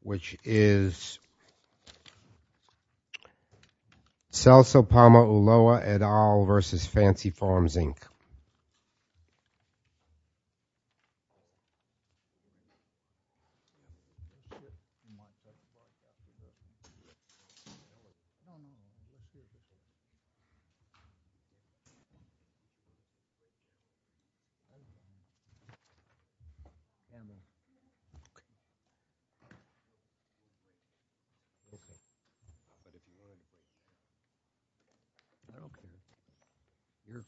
Which is Salso Palma Ulloa et al versus Fancy Farms, Inc.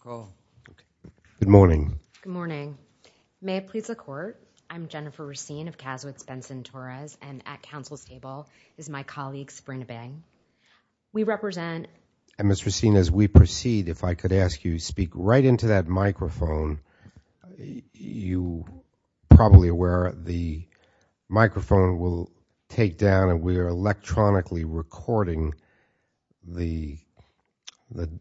Good morning, may it please the Court, I'm Jennifer Racine of Cazwitz-Benson-Torres and at Council's table is my colleague Sabrina Bang. We represent... And Ms. Racine, as we proceed, if I could ask you to speak right into that microphone. You're probably aware the microphone will take down and we are electronically recording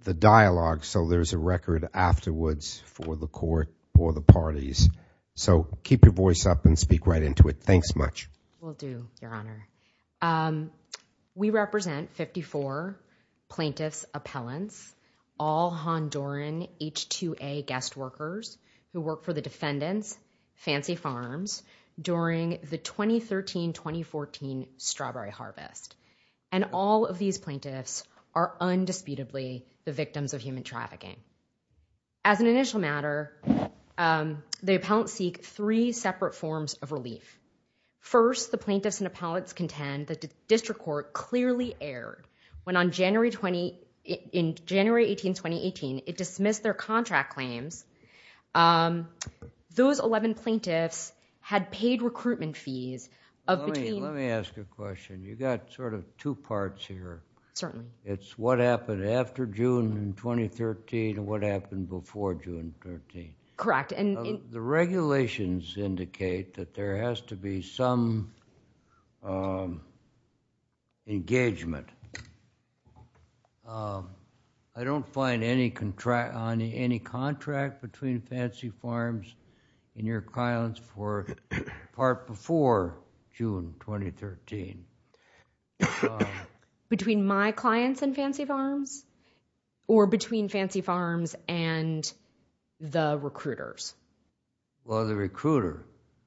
the dialogue so there's a record afterwards for the Court or the parties. So keep your voice up and speak right into it. Thanks much. Will do, Your Honor. We represent 54 plaintiffs, appellants, all Honduran H-2A guest workers who work for the defendants, Fancy Farms, during the 2013-2014 strawberry harvest. And all of these plaintiffs are undisputably the victims of human trafficking. As an initial matter, the appellants seek three separate forms of relief. First, the plaintiffs and appellants contend that the District Court clearly erred when on January 20, in January 18, 2018, it dismissed their contract claims. Those 11 plaintiffs had paid recruitment fees of between... Let me ask you a question, you've got sort of two parts here. Certainly. It's what happened after June 2013 and what happened before June 2013. Correct. The regulations indicate that there has to be some engagement. I don't find any contract between Fancy Farms and your clients for part before June 2013. Between my clients and Fancy Farms? Or between Fancy Farms and the recruiters? Well, the recruiter.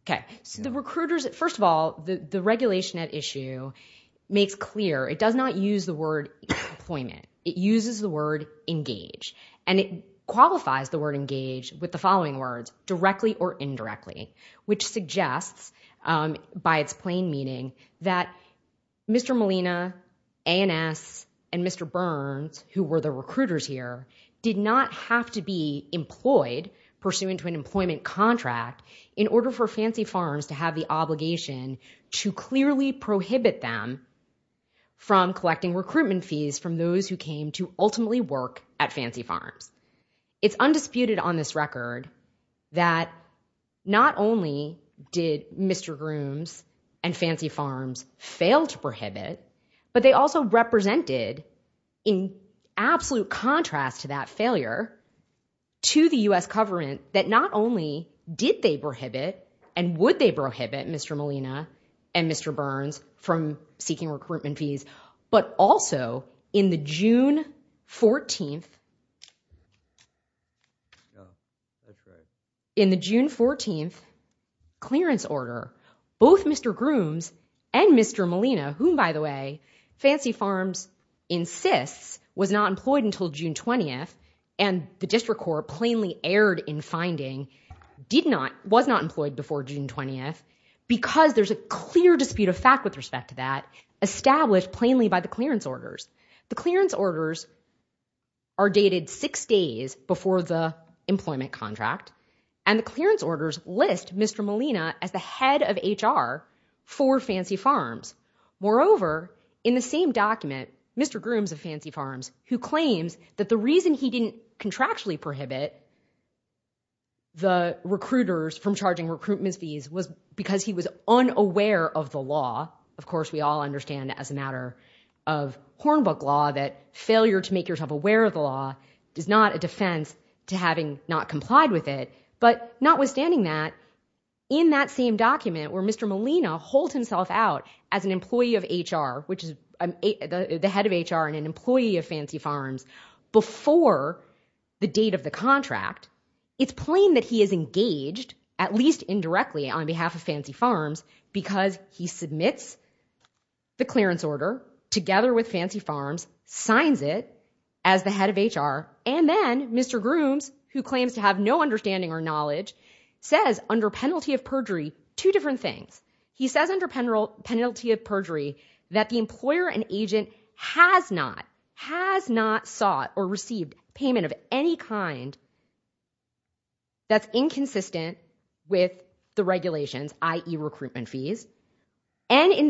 Okay. So the recruiters, first of all, the regulation at issue makes clear, it does not use the word employment. It uses the word engage. And it qualifies the word engage with the following words, directly or indirectly. Which suggests, by its plain meaning, that Mr. Molina, A&S, and Mr. Burns, who were the recruiters here, did not have to be employed pursuant to an employment contract in order for Fancy Farms to have the obligation to clearly prohibit them from collecting recruitment fees from those who came to ultimately work at Fancy Farms. It's undisputed on this record that not only did Mr. Grooms and Fancy Farms fail to prohibit, but they also represented, in absolute contrast to that failure, to the U.S. government that not only did they prohibit and would they prohibit Mr. Molina and Mr. Burns from seeking recruitment fees, but also in the June 14th, in the June 14th clearance order, both Mr. Grooms and Mr. Molina, whom, by the way, Fancy Farms insists was not employed until June 20th, and the district court plainly erred in finding, did not, was not employed before June 20th, because there's a clear dispute of fact with respect to that, established plainly by the clearance orders. The clearance orders are dated six days before the employment contract, and the clearance orders list Mr. Molina as the head of HR for Fancy Farms. Moreover, in the same document, Mr. Grooms of Fancy Farms, who claims that the reason he didn't contractually prohibit the recruiters from charging recruitment fees was because he was unaware of the law. Of course, we all understand as a matter of Hornbook law that failure to make yourself aware of the law is not a defense to having not complied with it. But notwithstanding that, in that same document where Mr. Molina holds himself out as an employee of HR, which is the head of HR and an employee of Fancy Farms, before the date of the contract, it's plain that he is engaged, at least indirectly on behalf of Fancy Farms, because he submits the clearance order together with Fancy Farms, signs it as the head of HR, and then Mr. Grooms, who claims to have no understanding or knowledge, says under penalty of perjury two different things. He says under penalty of perjury that the employer and agent has not, has not sought or received payment of any kind that's inconsistent with the regulations, i.e. recruitment fees. And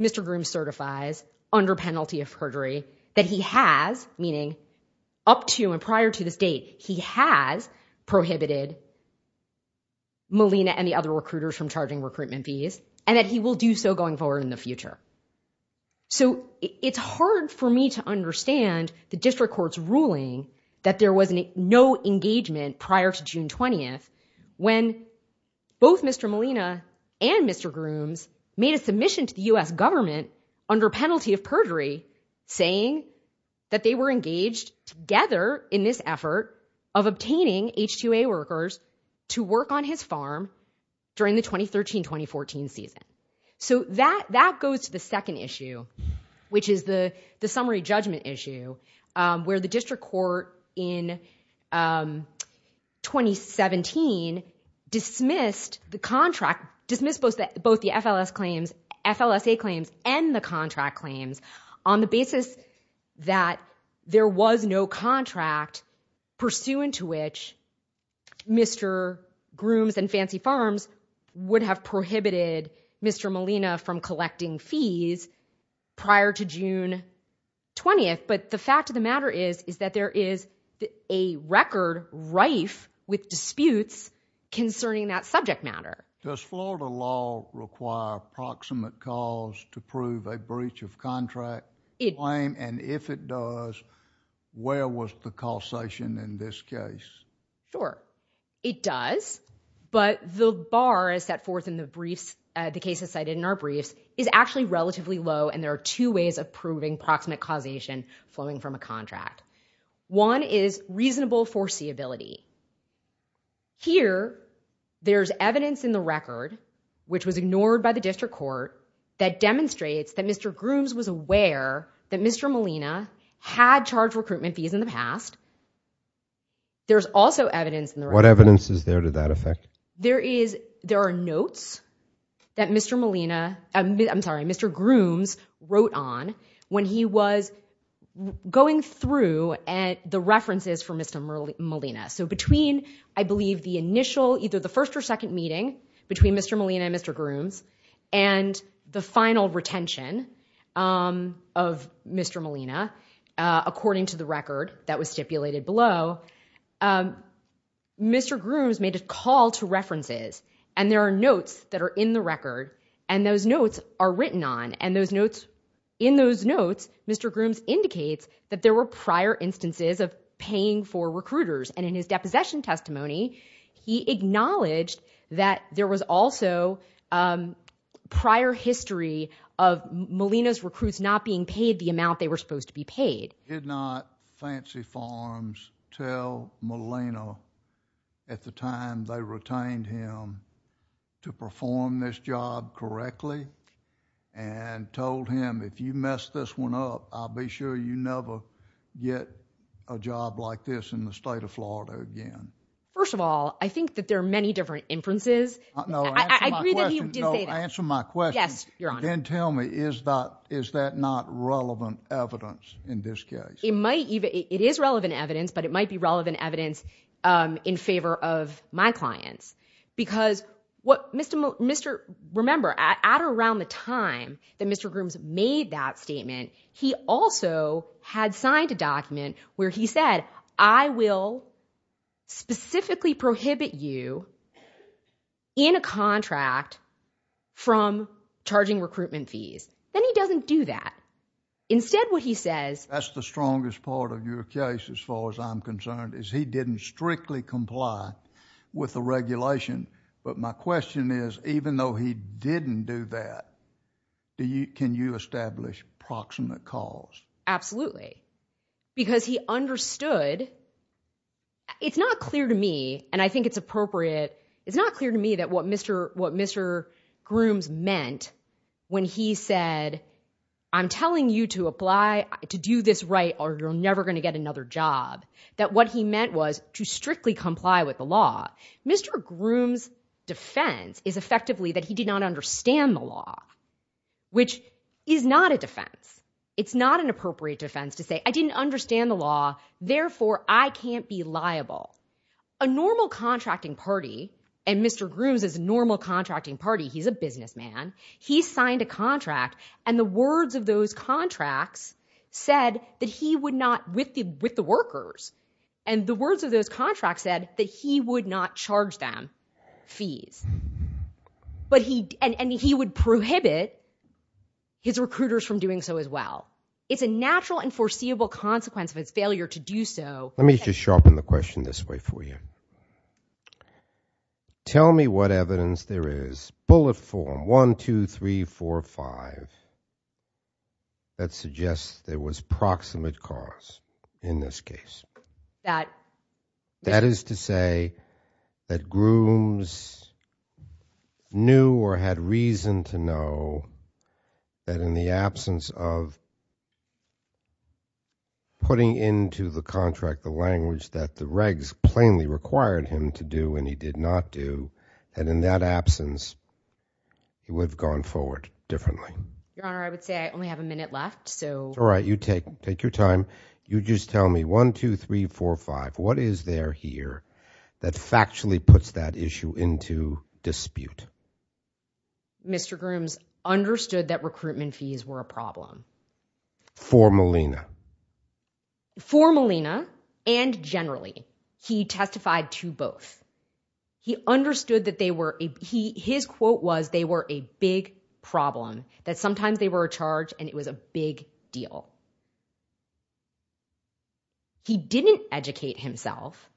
Mr. Grooms certifies under penalty of perjury that he has, meaning up to and prior to this date, he has prohibited Molina and the other recruiters from charging recruitment fees and that he will do so going forward in the future. So it's hard for me to understand the district court's ruling that there was no engagement prior to June 20th when both Mr. Molina and Mr. Grooms made a submission to the U.S. government under penalty of perjury saying that they were engaged together in this effort of obtaining H-2A workers to work on his farm during the 2013-2014 season. So that, that goes to the second issue, which is the, the summary judgment issue where the district court in 2017 dismissed the contract, dismissed both the, both the FLS claims, FLSA claims and the contract claims on the basis that there was no contract pursuant to which Mr. Grooms and Fancy Farms would have prohibited Mr. Molina from collecting fees prior to June 20th. But the fact of the matter is, is that there is a record rife with disputes concerning that subject matter. Does Florida law require proximate cause to prove a breach of contract claim? And if it does, where was the causation in this case? Sure, it does. But the bar is set forth in the briefs, the cases cited in our briefs, is actually relatively low and there are two ways of proving proximate causation flowing from a contract. One is reasonable foreseeability. Here, there's evidence in the record, which was ignored by the district court, that demonstrates that Mr. Grooms was aware that Mr. Molina had charged recruitment fees in the past. There's also evidence in the record. What evidence is there to that effect? There is, there are notes that Mr. Molina, I'm sorry, Mr. Grooms wrote on when he was going through the references for Mr. Molina. So between, I believe, the initial, either the first or second meeting between Mr. Molina and Mr. Grooms, and the final retention of Mr. Molina, according to the record that was stipulated below, Mr. Grooms made a call to references. And there are notes that are in the record, and those notes are written on. And those notes, in those notes, Mr. Grooms indicates that there were prior instances of paying for recruiters. And in his deposition testimony, he acknowledged that there was also prior history of Molina's recruits not being paid the amount they were supposed to be paid. Did not Fancy Farms tell Molina at the time they retained him to perform this job correctly? And told him, if you mess this one up, I'll be sure you never get a job like this in the state of Florida again. First of all, I think that there are many different inferences. I agree that he did say that. No, answer my question. Yes, Your Honor. Then tell me, is that not relevant evidence in this case? It might even, it is relevant evidence, but it might be relevant evidence in favor of my clients. Because what Mr. — remember, at or around the time that Mr. Grooms made that statement, he also had signed a document where he said, I will specifically prohibit you in a contract from charging recruitment fees. Then he doesn't do that. Instead, what he says — That's the strongest part of your case, as far as I'm concerned, is he didn't strictly comply with the regulation. But my question is, even though he didn't do that, can you establish proximate cause? Absolutely. Because he understood — it's not clear to me, and I think it's appropriate, it's not clear to me that what Mr. Grooms meant when he said, I'm telling you to apply, to do this right, or you're never going to get another job. That what he meant was to strictly comply with the law. Mr. Grooms' defense is effectively that he did not understand the law, which is not a defense. It's not an appropriate defense to say, I didn't understand the law, therefore I can't be liable. A normal contracting party — and Mr. Grooms is a normal contracting party, he's a businessman — he signed a contract, and the words of those contracts said that he would not, with the workers, and the words of those contracts said that he would not charge them fees. And he would prohibit his recruiters from doing so as well. It's a natural and foreseeable consequence of his failure to do so. Let me just sharpen the question this way for you. Tell me what evidence there is, bullet form, 1, 2, 3, 4, 5, that suggests there was proximate cause in this case. That — That is to say that Grooms knew or had reason to know that in the absence of putting into the contract the language that the regs plainly required him to do and he did not do, and in that absence, he would have gone forward differently. Your Honor, I would say I only have a minute left, so — All right, you take your time. You just tell me, 1, 2, 3, 4, 5, what is there here that factually puts that issue into dispute? Mr. Grooms understood that recruitment fees were a problem. For Molina. For Molina and generally. He testified to both. He understood that they were — his quote was, they were a big problem, that sometimes they were a charge and it was a big deal. He didn't educate himself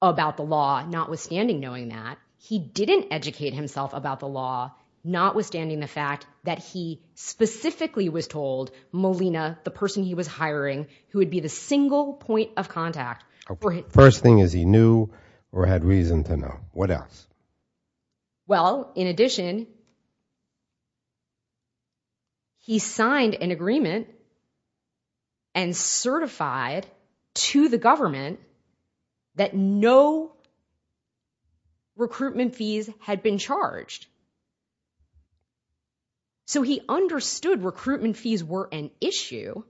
about the law, notwithstanding knowing that. He didn't educate himself about the law, notwithstanding the fact that he specifically was told, Molina, the person he was hiring, who would be the single point of contact — First thing is he knew or had reason to know. What else? Well, in addition, he signed an agreement and certified to the government that no recruitment fees had been charged. So he understood recruitment fees were an issue.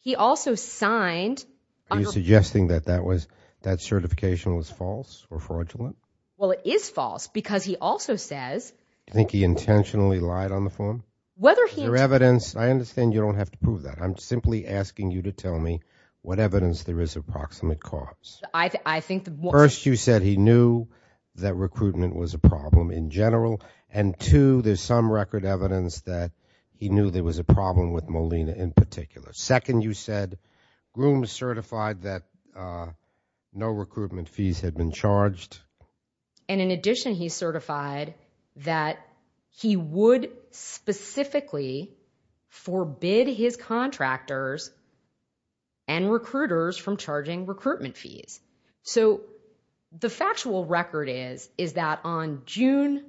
He also signed — Are you suggesting that that was — that certification was false or fraudulent? Well, it is false because he also says — Do you think he intentionally lied on the form? Whether he — Is there evidence — I understand you don't have to prove that. I'm simply asking you to tell me what evidence there is of proximate cause. I think the — First, you said he knew that recruitment was a problem in general, and two, there's some record evidence that he knew there was a problem with Molina in particular. Second, you said Grooms certified that no recruitment fees had been charged. And in addition, he certified that he would specifically forbid his contractors and recruiters from charging recruitment fees. So the factual record is, is that on June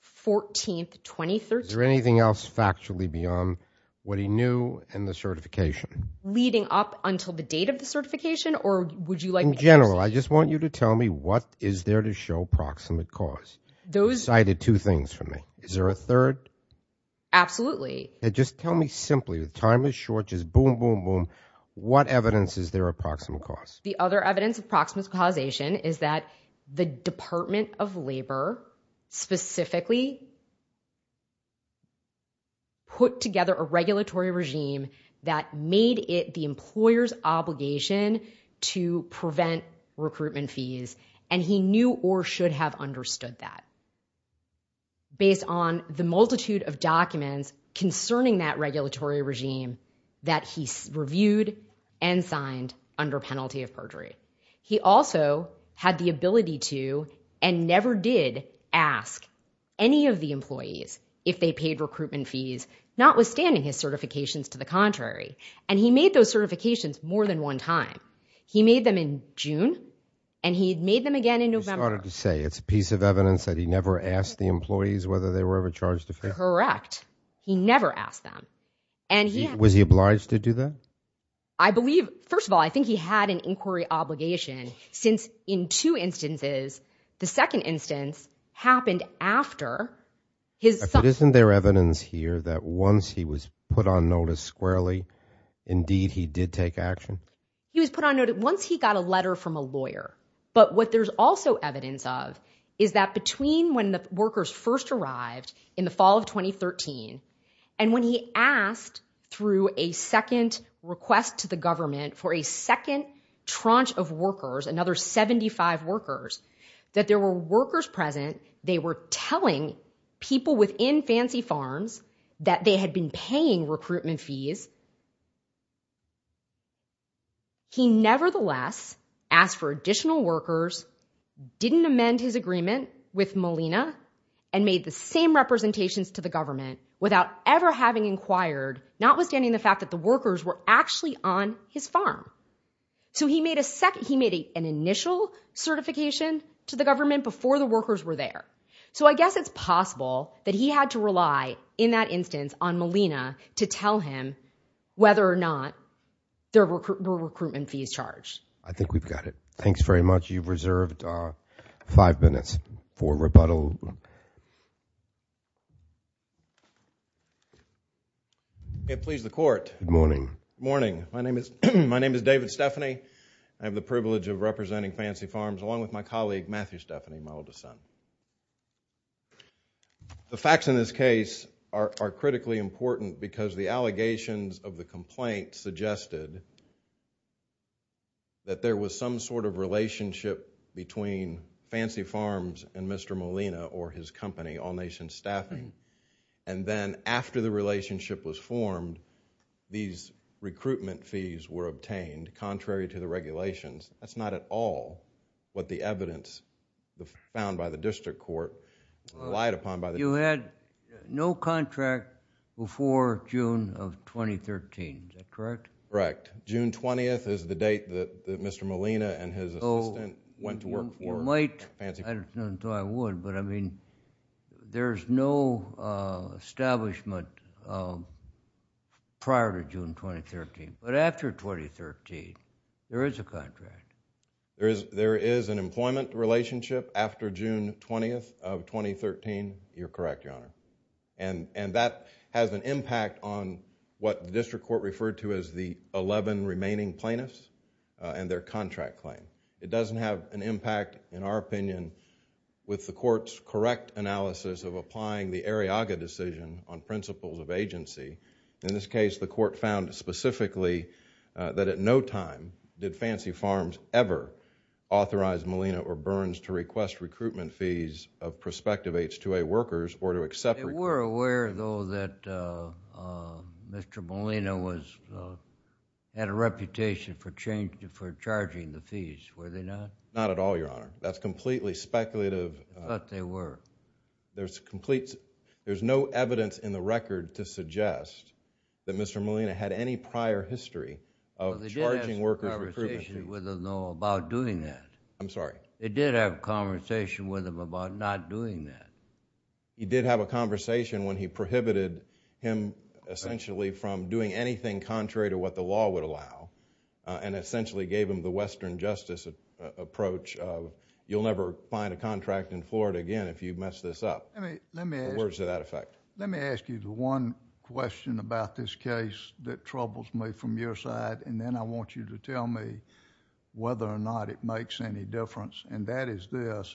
14, 2013 — Is there anything else factually beyond what he knew and the certification? Leading up until the date of the certification, or would you like me to — In general, I just want you to tell me what is there to show proximate cause. Those — You cited two things for me. Is there a third? Absolutely. Now just tell me simply, time is short, just boom, boom, boom, what evidence is there of the other evidence of proximate causation? Is that the Department of Labor specifically put together a regulatory regime that made it the employer's obligation to prevent recruitment fees, and he knew or should have understood that, based on the multitude of documents concerning that regulatory regime that he reviewed and signed under penalty of perjury. He also had the ability to, and never did, ask any of the employees if they paid recruitment fees, notwithstanding his certifications to the contrary. And he made those certifications more than one time. He made them in June, and he made them again in November. You started to say it's a piece of evidence that he never asked the employees whether they were ever charged a fee? Correct. Correct. He never asked them. And he — Was he obliged to do that? I believe — first of all, I think he had an inquiry obligation, since in two instances, the second instance happened after his — But isn't there evidence here that once he was put on notice squarely, indeed he did take action? He was put on notice — once he got a letter from a lawyer. But what there's also evidence of is that between when the workers first arrived in the fall of 2013, and when he asked through a second request to the government for a second tranche of workers, another 75 workers, that there were workers present, they were telling people within Fancy Farms that they had been paying recruitment fees, he nevertheless asked for additional workers, didn't amend his agreement with Molina, and made the same representations to the government without ever having inquired, notwithstanding the fact that the workers were actually on his farm. So he made an initial certification to the government before the workers were there. So I guess it's possible that he had to rely in that instance on Molina to tell him whether or not there were recruitment fees charged. I think we've got it. Thanks very much. You've reserved five minutes for rebuttal. May it please the Court. Good morning. Good morning. My name is David Stephanie. I have the privilege of representing Fancy Farms along with my colleague, Matthew Stephanie, my oldest son. The facts in this case are critically important because the allegations of the complaint suggested that there was some sort of relationship between Fancy Farms and Mr. Molina or his company, All Nation Staffing, and then after the relationship was formed, these recruitment fees were obtained contrary to the regulations. That's not at all what the evidence found by the district court relied upon. You had no contract before June of 2013. Is that correct? Correct. June 20th is the date that Mr. Molina and his assistant went to work for Fancy Farms. I didn't think I would, but I mean, there's no establishment prior to June 2013. But after 2013, there is a contract. There is an employment relationship after June 20th of 2013. You're correct, Your Honor. That has an impact on what the district court referred to as the 11 remaining plaintiffs and their contract claim. It doesn't have an impact, in our opinion, with the court's correct analysis of applying the Arriaga decision on principles of agency. In this case, the court found specifically that at no time did Fancy Farms ever authorize Mr. Molina or Burns to request recruitment fees of prospective H-2A workers or to accept recruitment. They were aware, though, that Mr. Molina had a reputation for charging the fees, were they not? Not at all, Your Honor. That's completely speculative. But they were. There's no evidence in the record to suggest that Mr. Molina had any prior history of charging workers recruitment. They did have a conversation with him, though, about doing that. I'm sorry? They did have a conversation with him about not doing that. He did have a conversation when he prohibited him essentially from doing anything contrary to what the law would allow and essentially gave him the western justice approach of you'll never find a contract in Florida again if you mess this up. Let me ask... In other words, to that effect. Let me ask you the one question about this case that troubles me from your side, and then I want you to tell me whether or not it makes any difference, and that is this.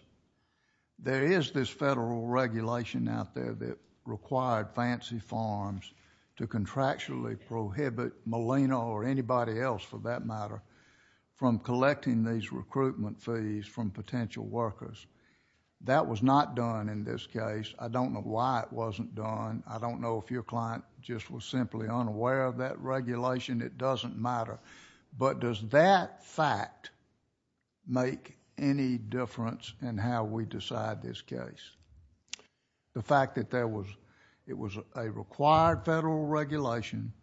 There is this federal regulation out there that required Fancy Farms to contractually prohibit Molina or anybody else, for that matter, from collecting these recruitment fees from potential workers. That was not done in this case. I don't know why it wasn't done. I don't know if your client just was simply unaware of that regulation. It doesn't matter, but does that fact make any difference in how we decide this case? The fact that it was a required federal regulation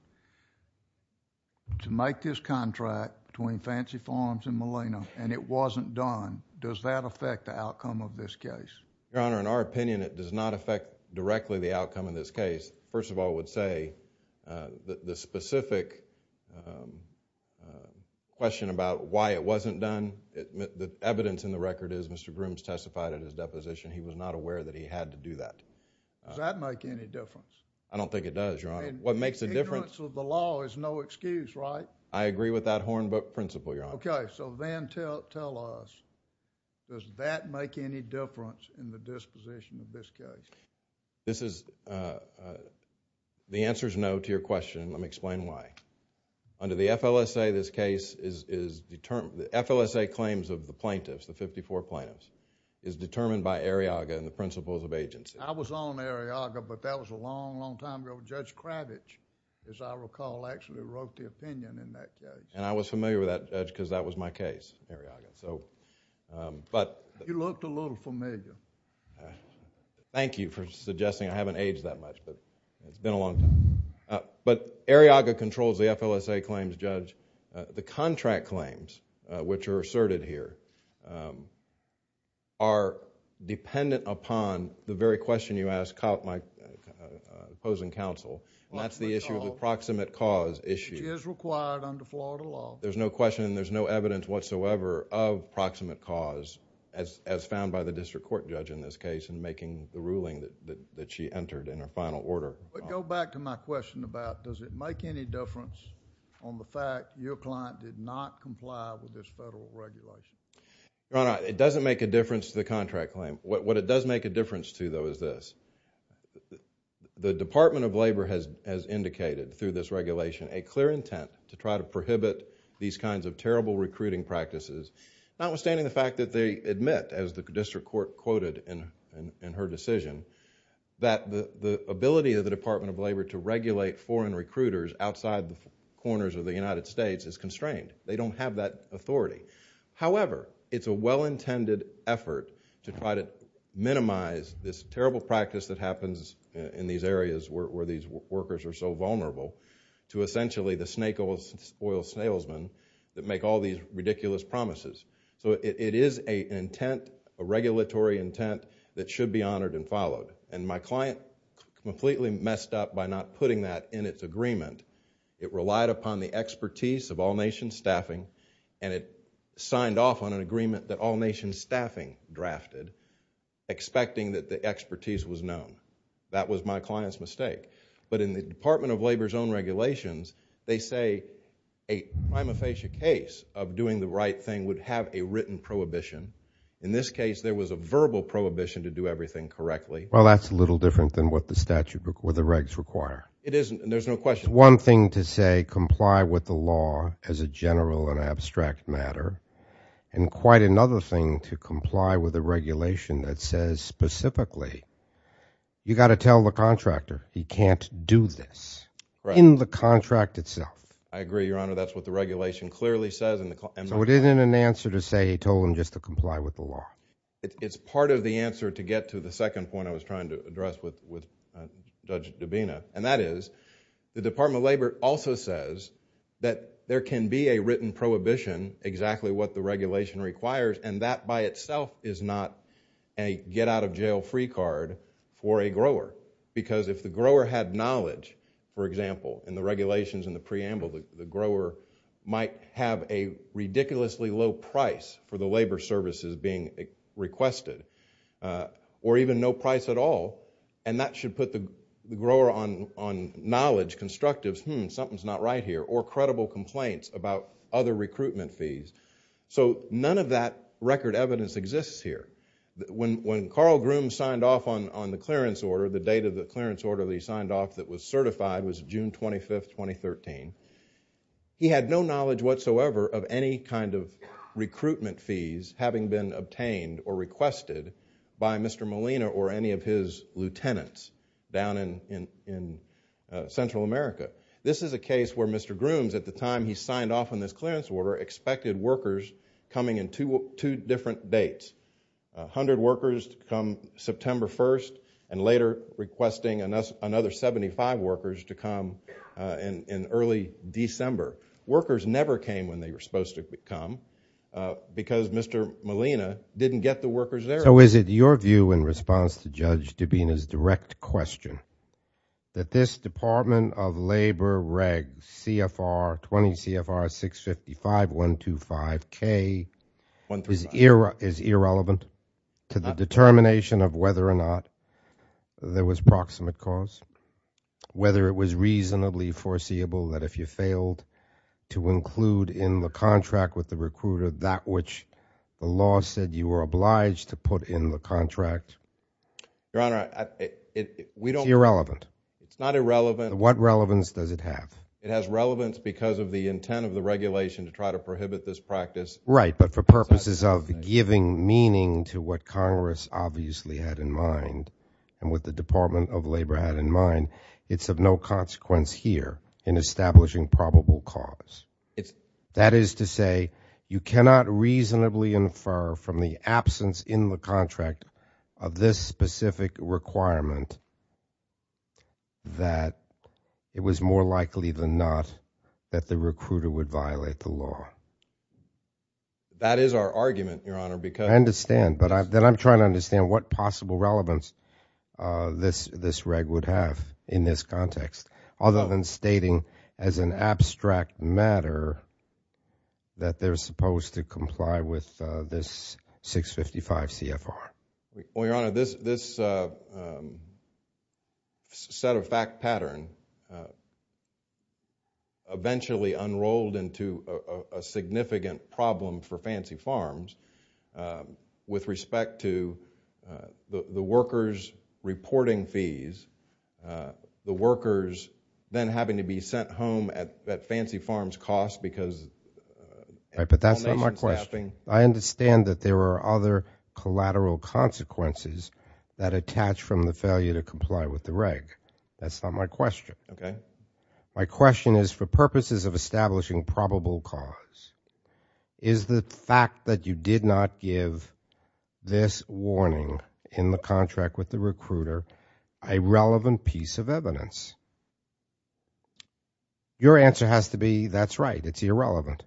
to make this contract between Fancy Farms and Molina and it wasn't done, does that affect the outcome of this case? Your Honor, in our opinion, it does not affect directly the outcome of this case. I just, first of all, would say that the specific question about why it wasn't done, the evidence in the record is Mr. Grooms testified in his deposition. He was not aware that he had to do that. Does that make any difference? I don't think it does, Your Honor. What makes a difference... Ignorance of the law is no excuse, right? I agree with that Hornbook principle, Your Honor. Okay. Then tell us, does that make any difference in the disposition of this case? The answer is no to your question. Let me explain why. Under the FLSA, this case is determined... The FLSA claims of the plaintiffs, the fifty-four plaintiffs, is determined by Arriaga and the principles of agency. I was on Arriaga, but that was a long, long time ago. Judge Kravich, as I recall, actually wrote the opinion in that case. I was familiar with that judge because that was my case, Arriaga. You looked a little familiar. Thank you for suggesting. I haven't aged that much, but it's been a long time. Arriaga controls the FLSA claims, Judge. The contract claims, which are asserted here, are dependent upon the very question you asked my opposing counsel, and that's the issue of the proximate cause issue. Which is required under Florida law. There's no question and there's no evidence whatsoever of proximate cause as found by the district court judge in this case in making the ruling that she entered in her final order. Go back to my question about does it make any difference on the fact your client did not comply with this federal regulation? Your Honor, it doesn't make a difference to the contract claim. What it does make a difference to though is this. The Department of Labor has indicated through this regulation a clear intent to try to prohibit these kinds of terrible recruiting practices. Notwithstanding the fact that they admit, as the district court quoted in her decision, that the ability of the Department of Labor to regulate foreign recruiters outside the corners of the United States is constrained. They don't have that authority. However, it's a well-intended effort to try to minimize this terrible practice that happens in these areas where these workers are so vulnerable to essentially the snake oil salesmen that make all these ridiculous promises. It is an intent, a regulatory intent, that should be honored and followed. My client completely messed up by not putting that in its agreement. It relied upon the expertise of all-nation staffing and it signed off on an agreement that all-nation staffing drafted expecting that the expertise was known. That was my client's mistake. But in the Department of Labor's own regulations, they say a prima facie case of doing the right thing would have a written prohibition. In this case, there was a verbal prohibition to do everything correctly. Well, that's a little different than what the statute or the regs require. It isn't, and there's no question. It's one thing to say comply with the law as a general and abstract matter and quite another thing to comply with a regulation that says specifically you've got to tell the contractor he can't do this in the contract itself. I agree, Your Honor. That's what the regulation clearly says. So it isn't an answer to say he told them just to comply with the law. It's part of the answer to get to the second point I was trying to address with Judge Dubina, and that is the Department of Labor also says that there can be a written prohibition, exactly what the regulation requires, and that by itself is not a get-out-of-jail-free card for a grower. Because if the grower had knowledge, for example, in the regulations and the preamble, the grower might have a ridiculously low price for the labor services being requested or even no price at all, and that should put the grower on knowledge constructives, hmm, something's not right here, or credible complaints about other recruitment fees. So none of that record evidence exists here. When Carl Grooms signed off on the clearance order, the date of the clearance order that he signed off that was certified was June 25, 2013, he had no knowledge whatsoever of any kind of recruitment fees having been obtained or requested by Mr. Molina or any of his lieutenants down in Central America. This is a case where Mr. Grooms, at the time he signed off on this clearance order, expected workers coming in two different dates, 100 workers to come September 1st and later requesting another 75 workers to come in early December. Workers never came when they were supposed to come because Mr. Molina didn't get the workers there. So is it your view in response to Judge Dubina's direct question that this Department of Labor Reg CFR 20 CFR 655.125K is irrelevant to the determination of whether or not there was proximate cause, whether it was reasonably foreseeable that if you failed to include in the contract with the recruiter that which the law said you were obliged to put in the contract? Your Honor, we don't It's irrelevant. It's not irrelevant. What relevance does it have? It has relevance because of the intent of the regulation to try to prohibit this practice. Right, but for purposes of giving meaning to what Congress obviously had in mind and what the Department of Labor had in mind, it's of no consequence here in establishing probable cause. That is to say you cannot reasonably infer from the absence in the contract of this specific requirement that it was more likely than not that the recruiter would violate the law. That is our argument, Your Honor, because I understand, but I'm trying to understand what possible relevance this reg would have in this context other than stating as an abstract matter that they're supposed to comply with this 655 CFR. Well, Your Honor, this set of fact pattern eventually unrolled into a significant problem for Fancy Farms with respect to the workers reporting fees, the workers then having to be sent home at Fancy Farms' cost because Right, but that's not my question. I understand that there are other collateral consequences that attach from the failure to comply with the reg. That's not my question. Okay. My question is for purposes of establishing probable cause, is the fact that you did not give this warning in the contract with the recruiter a relevant piece of evidence? Your answer has to be that's right, it's irrelevant.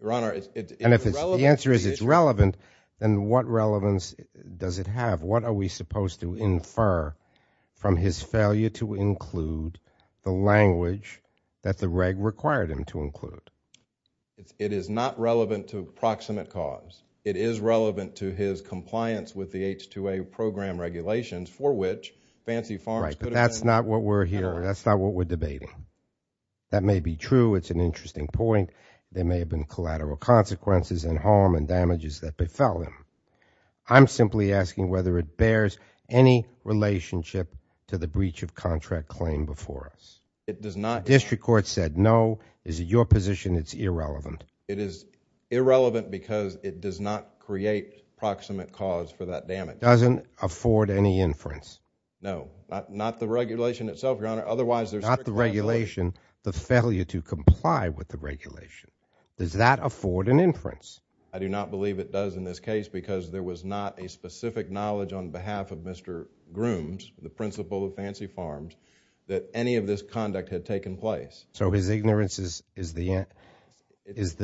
Your Honor, it's And if the answer is it's relevant, then what relevance does it have? What are we supposed to infer from his failure to include the language that the reg required him to include? It is not relevant to proximate cause. It is relevant to his compliance with the H-2A program regulations for which Fancy Farms Right, but that's not what we're hearing. That's not what we're debating. That may be true. It's an interesting point. There may have been collateral consequences and harm and damages that befell him. I'm simply asking whether it bears any relationship to the breach of contract claim before us. It does not Our district court said no. Is it your position it's irrelevant? It is irrelevant because it does not create proximate cause for that damage. Doesn't afford any inference? No. Not the regulation itself, Your Honor, otherwise there's Not the regulation, the failure to comply with the regulation. Does that afford an inference? I do not believe it does in this case because there was not a specific knowledge on behalf of Mr. Grooms, the principal of Fancy Farms, that any of this conduct had taken place. So his ignorance is the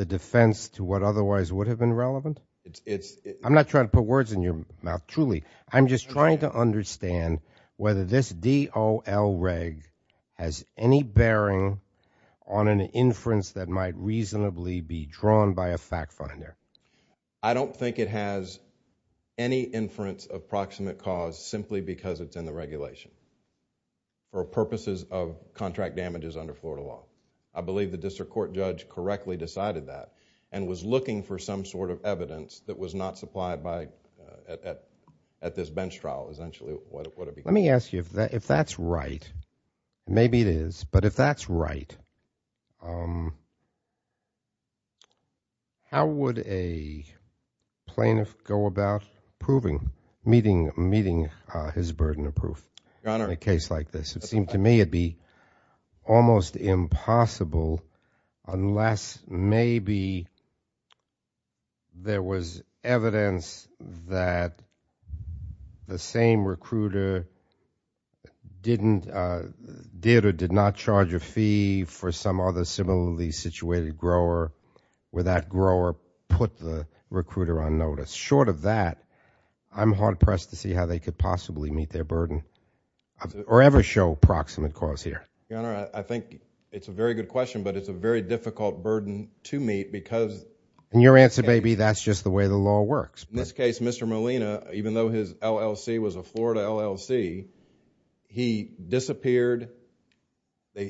defense to what otherwise would have been relevant? I'm not trying to put words in your mouth, truly. I'm just trying to understand whether this D-O-L reg has any bearing on an inference that might reasonably be drawn by a fact finder. I don't think it has any inference of proximate cause simply because it's in the regulation for purposes of contract damages under Florida law. I believe the district court judge correctly decided that and was looking for some sort of evidence that was not supplied at this bench trial, essentially. Let me ask you, if that's right, maybe it is, but if that's right, how would a plaintiff go about proving, meeting his burden of proof in a case like this? It seemed to me it would be almost impossible unless maybe there was evidence that the same recruiter did or did not charge a fee for some other similarly situated grower where that grower put the recruiter on notice. Short of that, I'm hard-pressed to see how they could possibly meet their burden or ever show proximate cause here. Your Honor, I think it's a very good question, but it's a very difficult burden to meet because In your answer, maybe that's just the way the law works. In this case, Mr. Molina, even though his LLC was a Florida LLC, he disappeared.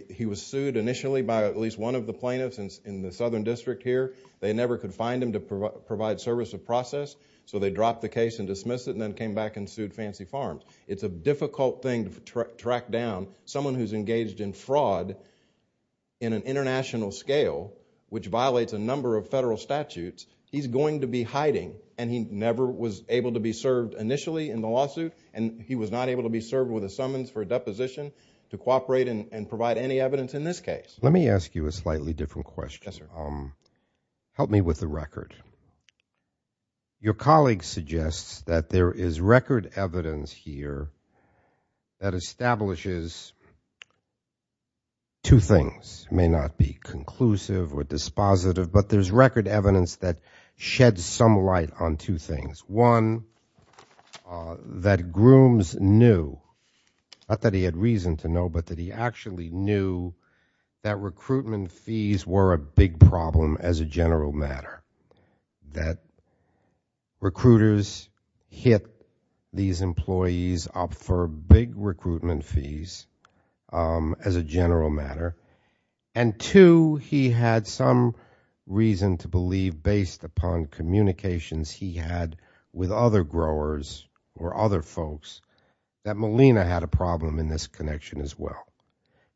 He was sued initially by at least one of the plaintiffs in the southern district here. They never could find him to provide service or process, so they dropped the case and dismissed it and then came back and sued Fancy Farms. It's a difficult thing to track down. Someone who's engaged in fraud in an international scale, which violates a number of federal statutes, he's going to be hiding, and he never was able to be served initially in the lawsuit, and he was not able to be served with a summons for a deposition to cooperate and provide any evidence in this case. Let me ask you a slightly different question. Yes, sir. Help me with the record. Your colleague suggests that there is record evidence here that establishes two things. This may not be conclusive or dispositive, but there's record evidence that sheds some light on two things. One, that Grooms knew, not that he had reason to know, but that he actually knew that recruitment fees were a big problem as a general matter, that recruiters hit these employees up for big recruitment fees as a general matter, and two, he had some reason to believe, based upon communications he had with other growers or other folks, that Molina had a problem in this connection as well.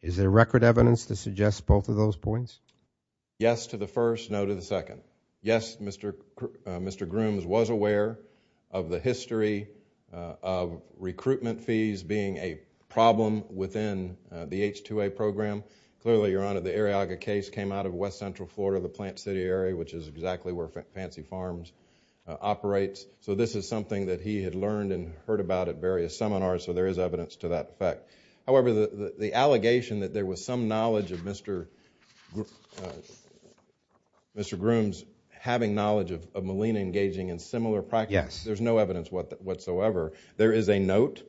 Is there record evidence to suggest both of those points? Yes to the first, no to the second. Yes, Mr. Grooms was aware of the history of recruitment fees being a problem within the H-2A program. Clearly, Your Honor, the Arriaga case came out of west-central Florida, the Plant City area, which is exactly where Fancy Farms operates, so this is something that he had learned and heard about at various seminars, so there is evidence to that effect. However, the allegation that there was some knowledge of Mr. Grooms having knowledge of Molina engaging in similar practices, there's no evidence whatsoever. There is a note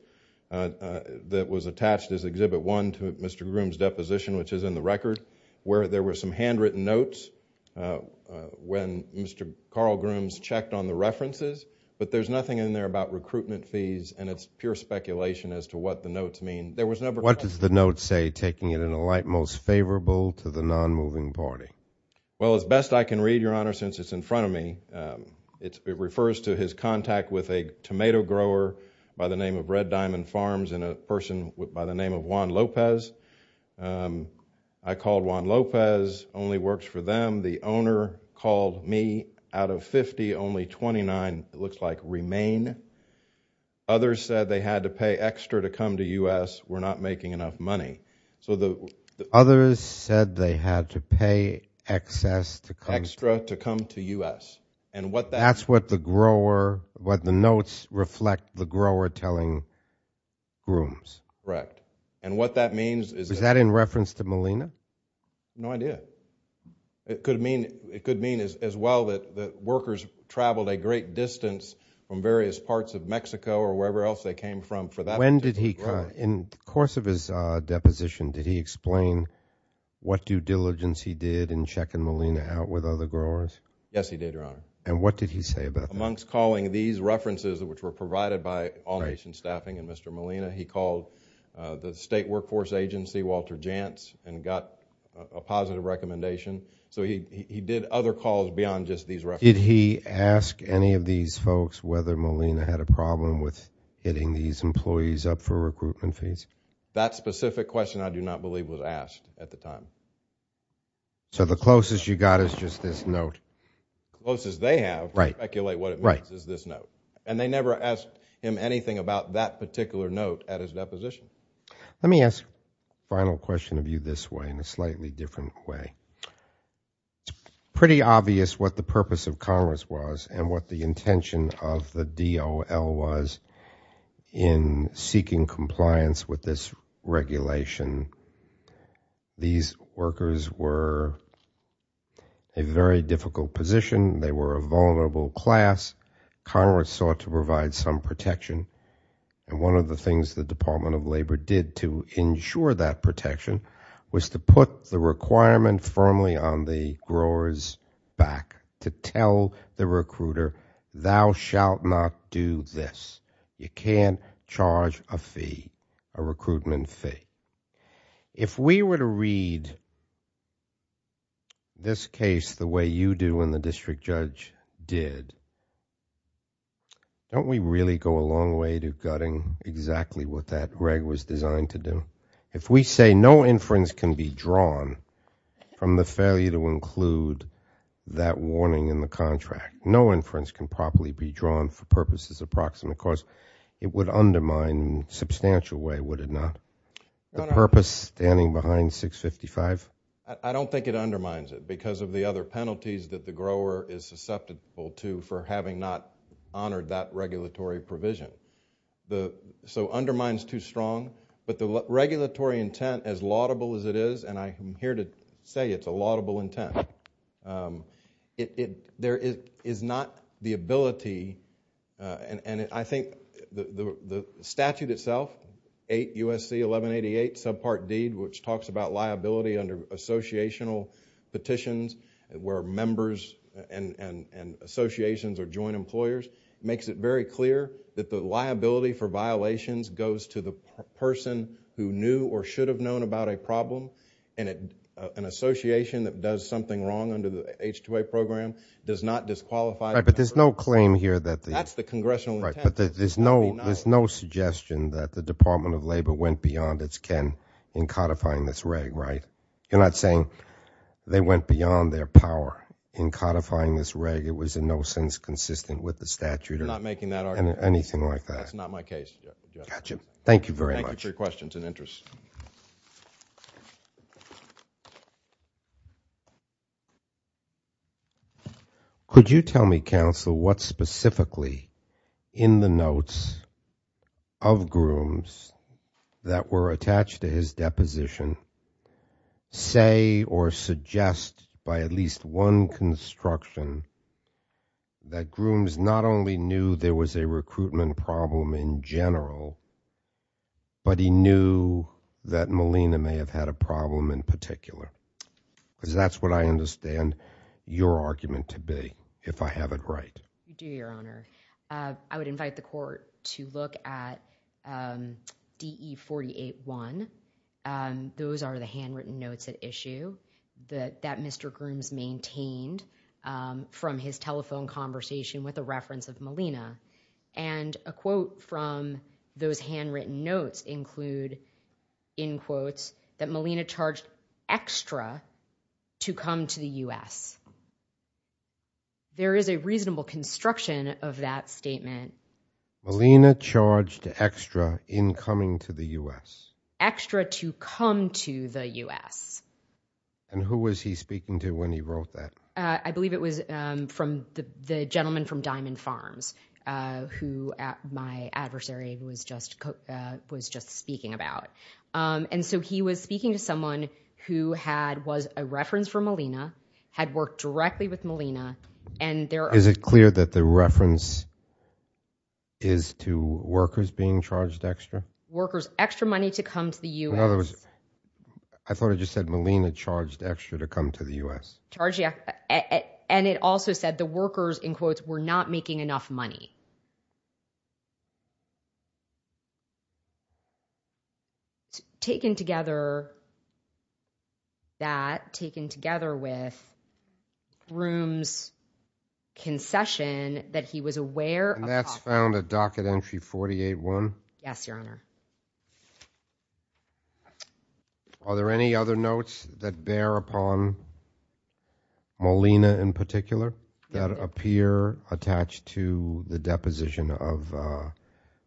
that was attached as Exhibit 1 to Mr. Grooms' deposition, which is in the record, where there were some handwritten notes when Mr. Carl Grooms checked on the references, but there's nothing in there about recruitment fees and it's pure speculation as to what the notes mean. What does the note say, taking it in a light most favorable to the non-moving party? Well, as best I can read, Your Honor, since it's in front of me, it refers to his contact with a tomato grower by the name of Red Diamond Farms and a person by the name of Juan Lopez. I called Juan Lopez, only works for them. The owner called me. Out of 50, only 29, it looks like, remain. Others said they had to pay extra to come to U.S. We're not making enough money. So the others said they had to pay excess to come to U.S. That's what the notes reflect the grower telling Grooms. Correct. And what that means is that in reference to Molina? No idea. It could mean as well that workers traveled a great distance from various parts of Mexico or wherever else they came from for that particular grower. When did he come? In the course of his deposition, did he explain what due diligence he did in checking Molina out with other growers? Yes, he did, Your Honor. And what did he say about that? Amongst calling these references, which were provided by all-nation staffing and Mr. Molina, he called the state workforce agency, Walter Jantz, and got a positive recommendation. So he did other calls beyond just these references. Did he ask any of these folks whether Molina had a problem with hitting these employees up for recruitment fees? That specific question, I do not believe, was asked at the time. So the closest you got is just this note. The closest they have to speculate what it means is this note. And they never asked him anything about that particular note at his deposition. Let me ask a final question of you this way in a slightly different way. Pretty obvious what the purpose of Congress was and what the intention of the DOL was in seeking compliance with this regulation. These workers were in a very difficult position. They were a vulnerable class. Congress sought to provide some protection. And one of the things the Department of Labor did to ensure that protection was to put the requirement firmly on the growers' back to tell the recruiter, thou shalt not do this. You can't charge a fee, a recruitment fee. If we were to read this case the way you do and the district judge did, don't we really go a long way to gutting exactly what that reg was designed to do? If we say no inference can be drawn from the failure to include that warning in the contract, no inference can properly be drawn for purposes it would undermine in a substantial way, would it not? The purpose standing behind 655? I don't think it undermines it because of the other penalties that the grower is susceptible to for having not honored that regulatory provision. So undermines too strong. But the regulatory intent, as laudable as it is, and I'm here to say it's a laudable intent, there is not the ability, and I think the statute itself, 8 U.S.C. 1188, subpart D, which talks about liability under associational petitions where members and associations are joint employers, makes it very clear that the liability for violations goes to the person who knew or should have known about a problem and an association that does something wrong under the H-2A program does not disqualify that person. Right, but there's no claim here that the... That's the congressional intent. Right, but there's no suggestion that the Department of Labor went beyond its ken in codifying this reg, right? You're not saying they went beyond their power in codifying this reg? It was in no sense consistent with the statute or anything like that. You're not making that argument. That's not my case. Gotcha. Thank you very much. Thank you for your questions and interest. Thank you. Could you tell me, counsel, what specifically in the notes of Grooms that were attached to his deposition say or suggest by at least one construction that Grooms not only knew there was a recruitment problem in general, but he knew that Molina may have had a problem in particular? Because that's what I understand your argument to be, if I have it right. I do, Your Honor. I would invite the court to look at DE 48-1. Those are the handwritten notes at issue that Mr. Grooms maintained from his telephone conversation with a reference of Molina. And a quote from those handwritten notes include, in quotes, that Molina charged extra to come to the U.S. There is a reasonable construction of that statement. Molina charged extra in coming to the U.S.? Extra to come to the U.S. And who was he speaking to when he wrote that? I believe it was the gentleman from Diamond Farms, who my adversary was just speaking about. And so he was speaking to someone who was a reference for Molina, had worked directly with Molina. Is it clear that the reference is to workers being charged extra? Workers, extra money to come to the U.S. In other words, I thought it just said Molina charged extra to come to the U.S. And it also said the workers, in quotes, were not making enough money. Taken together with Grooms' concession that he was aware of... And that's found at docket entry 48-1? Yes, Your Honor. Are there any other notes that bear upon Molina in particular that appear attached to the deposition of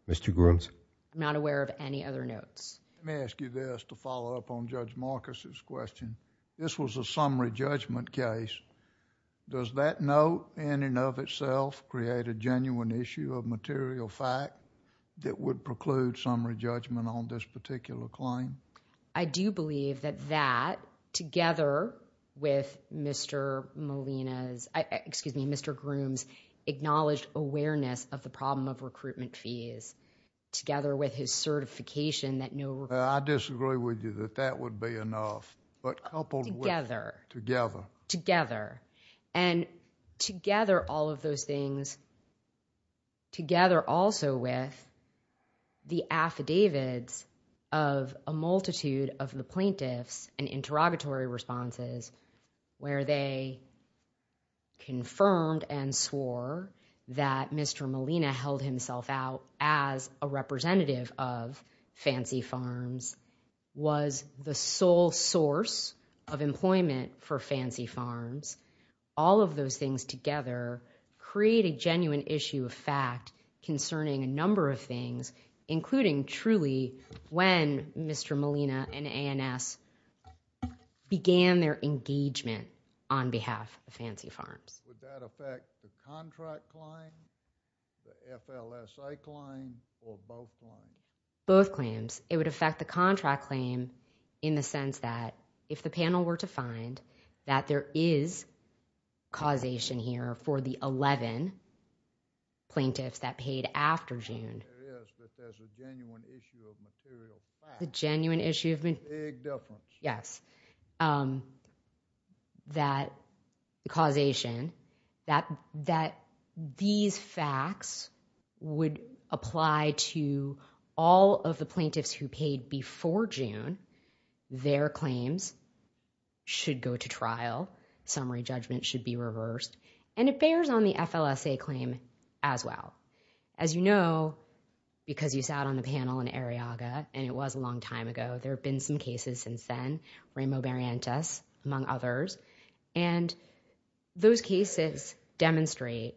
Mr. Grooms? I'm not aware of any other notes. Let me ask you this to follow up on Judge Marcus' question. This was a summary judgment case. Does that note in and of itself create a genuine issue of material fact that would preclude summary judgment on this particular claim? I do believe that that, together with Mr. Molina's... Excuse me, Mr. Grooms' acknowledged awareness of the problem of recruitment fees, together with his certification that no... I disagree with you that that would be enough. But coupled with... Together. Together. Together. And together, all of those things, together also with the affidavits of a multitude of the plaintiffs and interrogatory responses where they confirmed and swore that Mr. Molina held himself out as a representative of Fancy Farms, was the sole source of employment for Fancy Farms, all of those things together create a genuine issue of fact concerning a number of things, including truly when Mr. Molina and ANS began their engagement on behalf of Fancy Farms. Would that affect the contract claim, the FLSA claim, or both claims? Both claims. It would affect the contract claim in the sense that if the panel were to find that there is causation here for the 11 plaintiffs that paid after June... There is, but there's a genuine issue of material fact. The genuine issue of... Big difference. Yes. That causation, that these facts would apply to all of the plaintiffs who paid before June, their claims should go to trial. Summary judgment should be reversed. And it bears on the FLSA claim as well. As you know, because you sat on the panel in Arriaga, and it was a long time ago, there have been some cases since then, Ramo Barrientos among others, and those cases demonstrate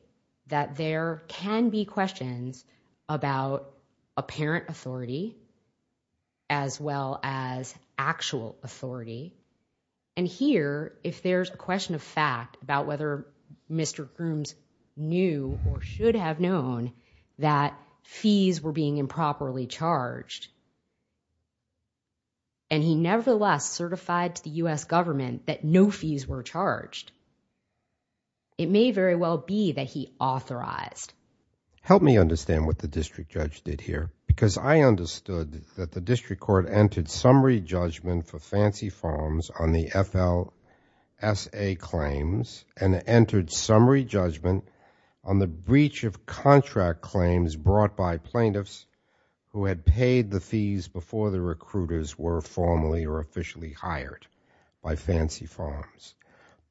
that there can be questions about apparent authority as well as actual authority. And here, if there's a question of fact about whether Mr. Grooms knew or should have known that fees were being improperly charged, and he nevertheless certified to the U.S. government that no fees were charged, it may very well be that he authorized. Help me understand what the district judge did here, because I understood that the district court entered summary judgment for Fancy Farms on the FLSA claims and entered summary judgment on the breach of contract claims brought by plaintiffs who had paid the fees before the recruiters were formally or officially hired by Fancy Farms.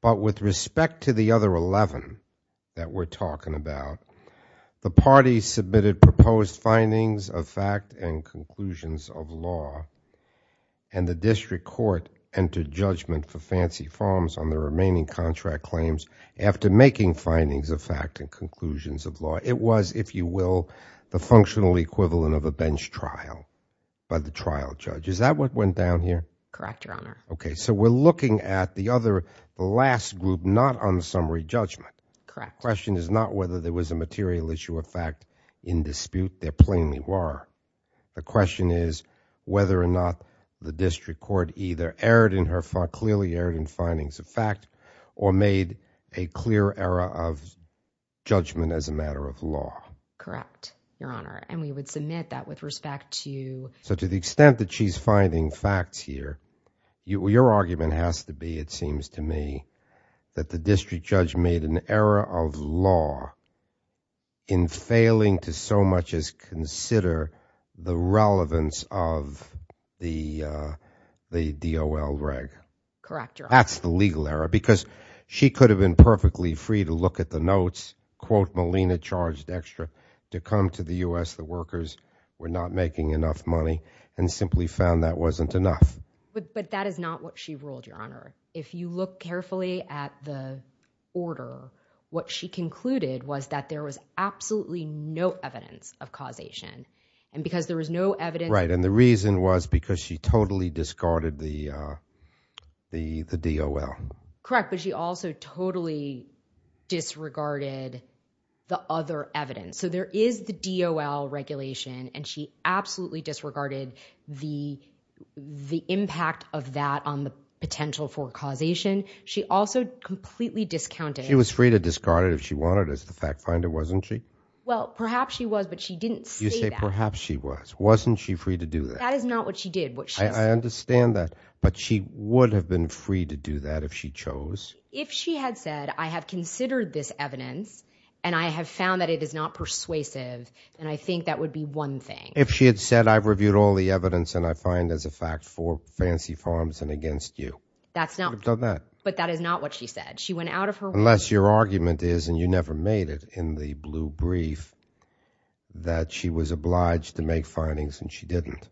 But with respect to the other 11 that we're talking about, the party submitted proposed findings of fact and conclusions of law, and the district court entered judgment for Fancy Farms on the remaining contract claims after making findings of fact and conclusions of law. It was, if you will, the functional equivalent of a bench trial by the trial judge. Is that what went down here? Correct, Your Honor. Okay, so we're looking at the other last group, not on summary judgment. Correct. The question is not whether there was a material issue of fact in dispute. There plainly were. The question is whether or not the district court either clearly erred in findings of fact or made a clear error of judgment as a matter of law. Correct, Your Honor. And we would submit that with respect to... So to the extent that she's finding facts here, your argument has to be, it seems to me, that the district judge made an error of law in failing to so much as consider the relevance of the DOL reg. Correct, Your Honor. That's the legal error because she could have been perfectly free to look at the notes, quote, Malina charged extra, to come to the U.S. The workers were not making enough money and simply found that wasn't enough. But that is not what she ruled, Your Honor. If you look carefully at the order, what she concluded was that there was absolutely no evidence of causation. And because there was no evidence... Right, and the reason was because she totally discarded the DOL. Correct, but she also totally disregarded the other evidence. So there is the DOL regulation, and she absolutely disregarded the impact of that on the potential for causation. She also completely discounted... She was free to discard it if she wanted as the fact finder, wasn't she? Well, perhaps she was, but she didn't say that. You say perhaps she was. Wasn't she free to do that? That is not what she did. I understand that, but she would have been free to do that if she chose. If she had said, and I have found that it is not persuasive, then I think that would be one thing. If she had said, She would have done that. But that is not what she said. She went out of her way. Unless your argument is, and you never made it in the blue brief, that she was obliged to make findings and she didn't.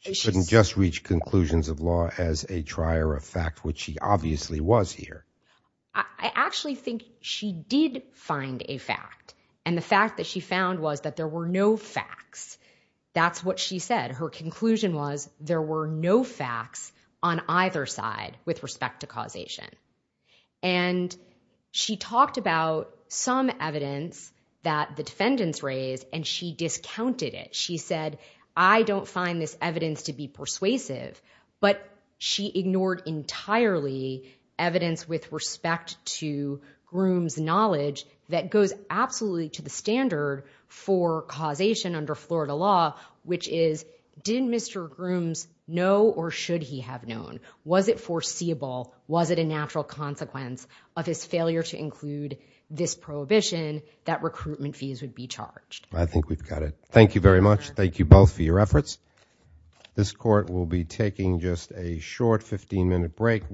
She couldn't just reach conclusions of law as a trier of fact, which she obviously was here. I actually think she did find a fact. And the fact that she found was that there were no facts. That's what she said. Her conclusion was there were no facts on either side with respect to causation. And she talked about some evidence that the defendants raised, and she discounted it. She said, I don't find this evidence to be persuasive. But she ignored entirely evidence with respect to Groom's knowledge that goes absolutely to the standard for causation under Florida law, which is, did Mr. Groom's know or should he have known? Was it foreseeable? Was it a natural consequence of his failure to include this prohibition that recruitment fees would be charged? I think we've got it. Thank you very much. Thank you both for your efforts. This court will be taking just a short 15-minute break.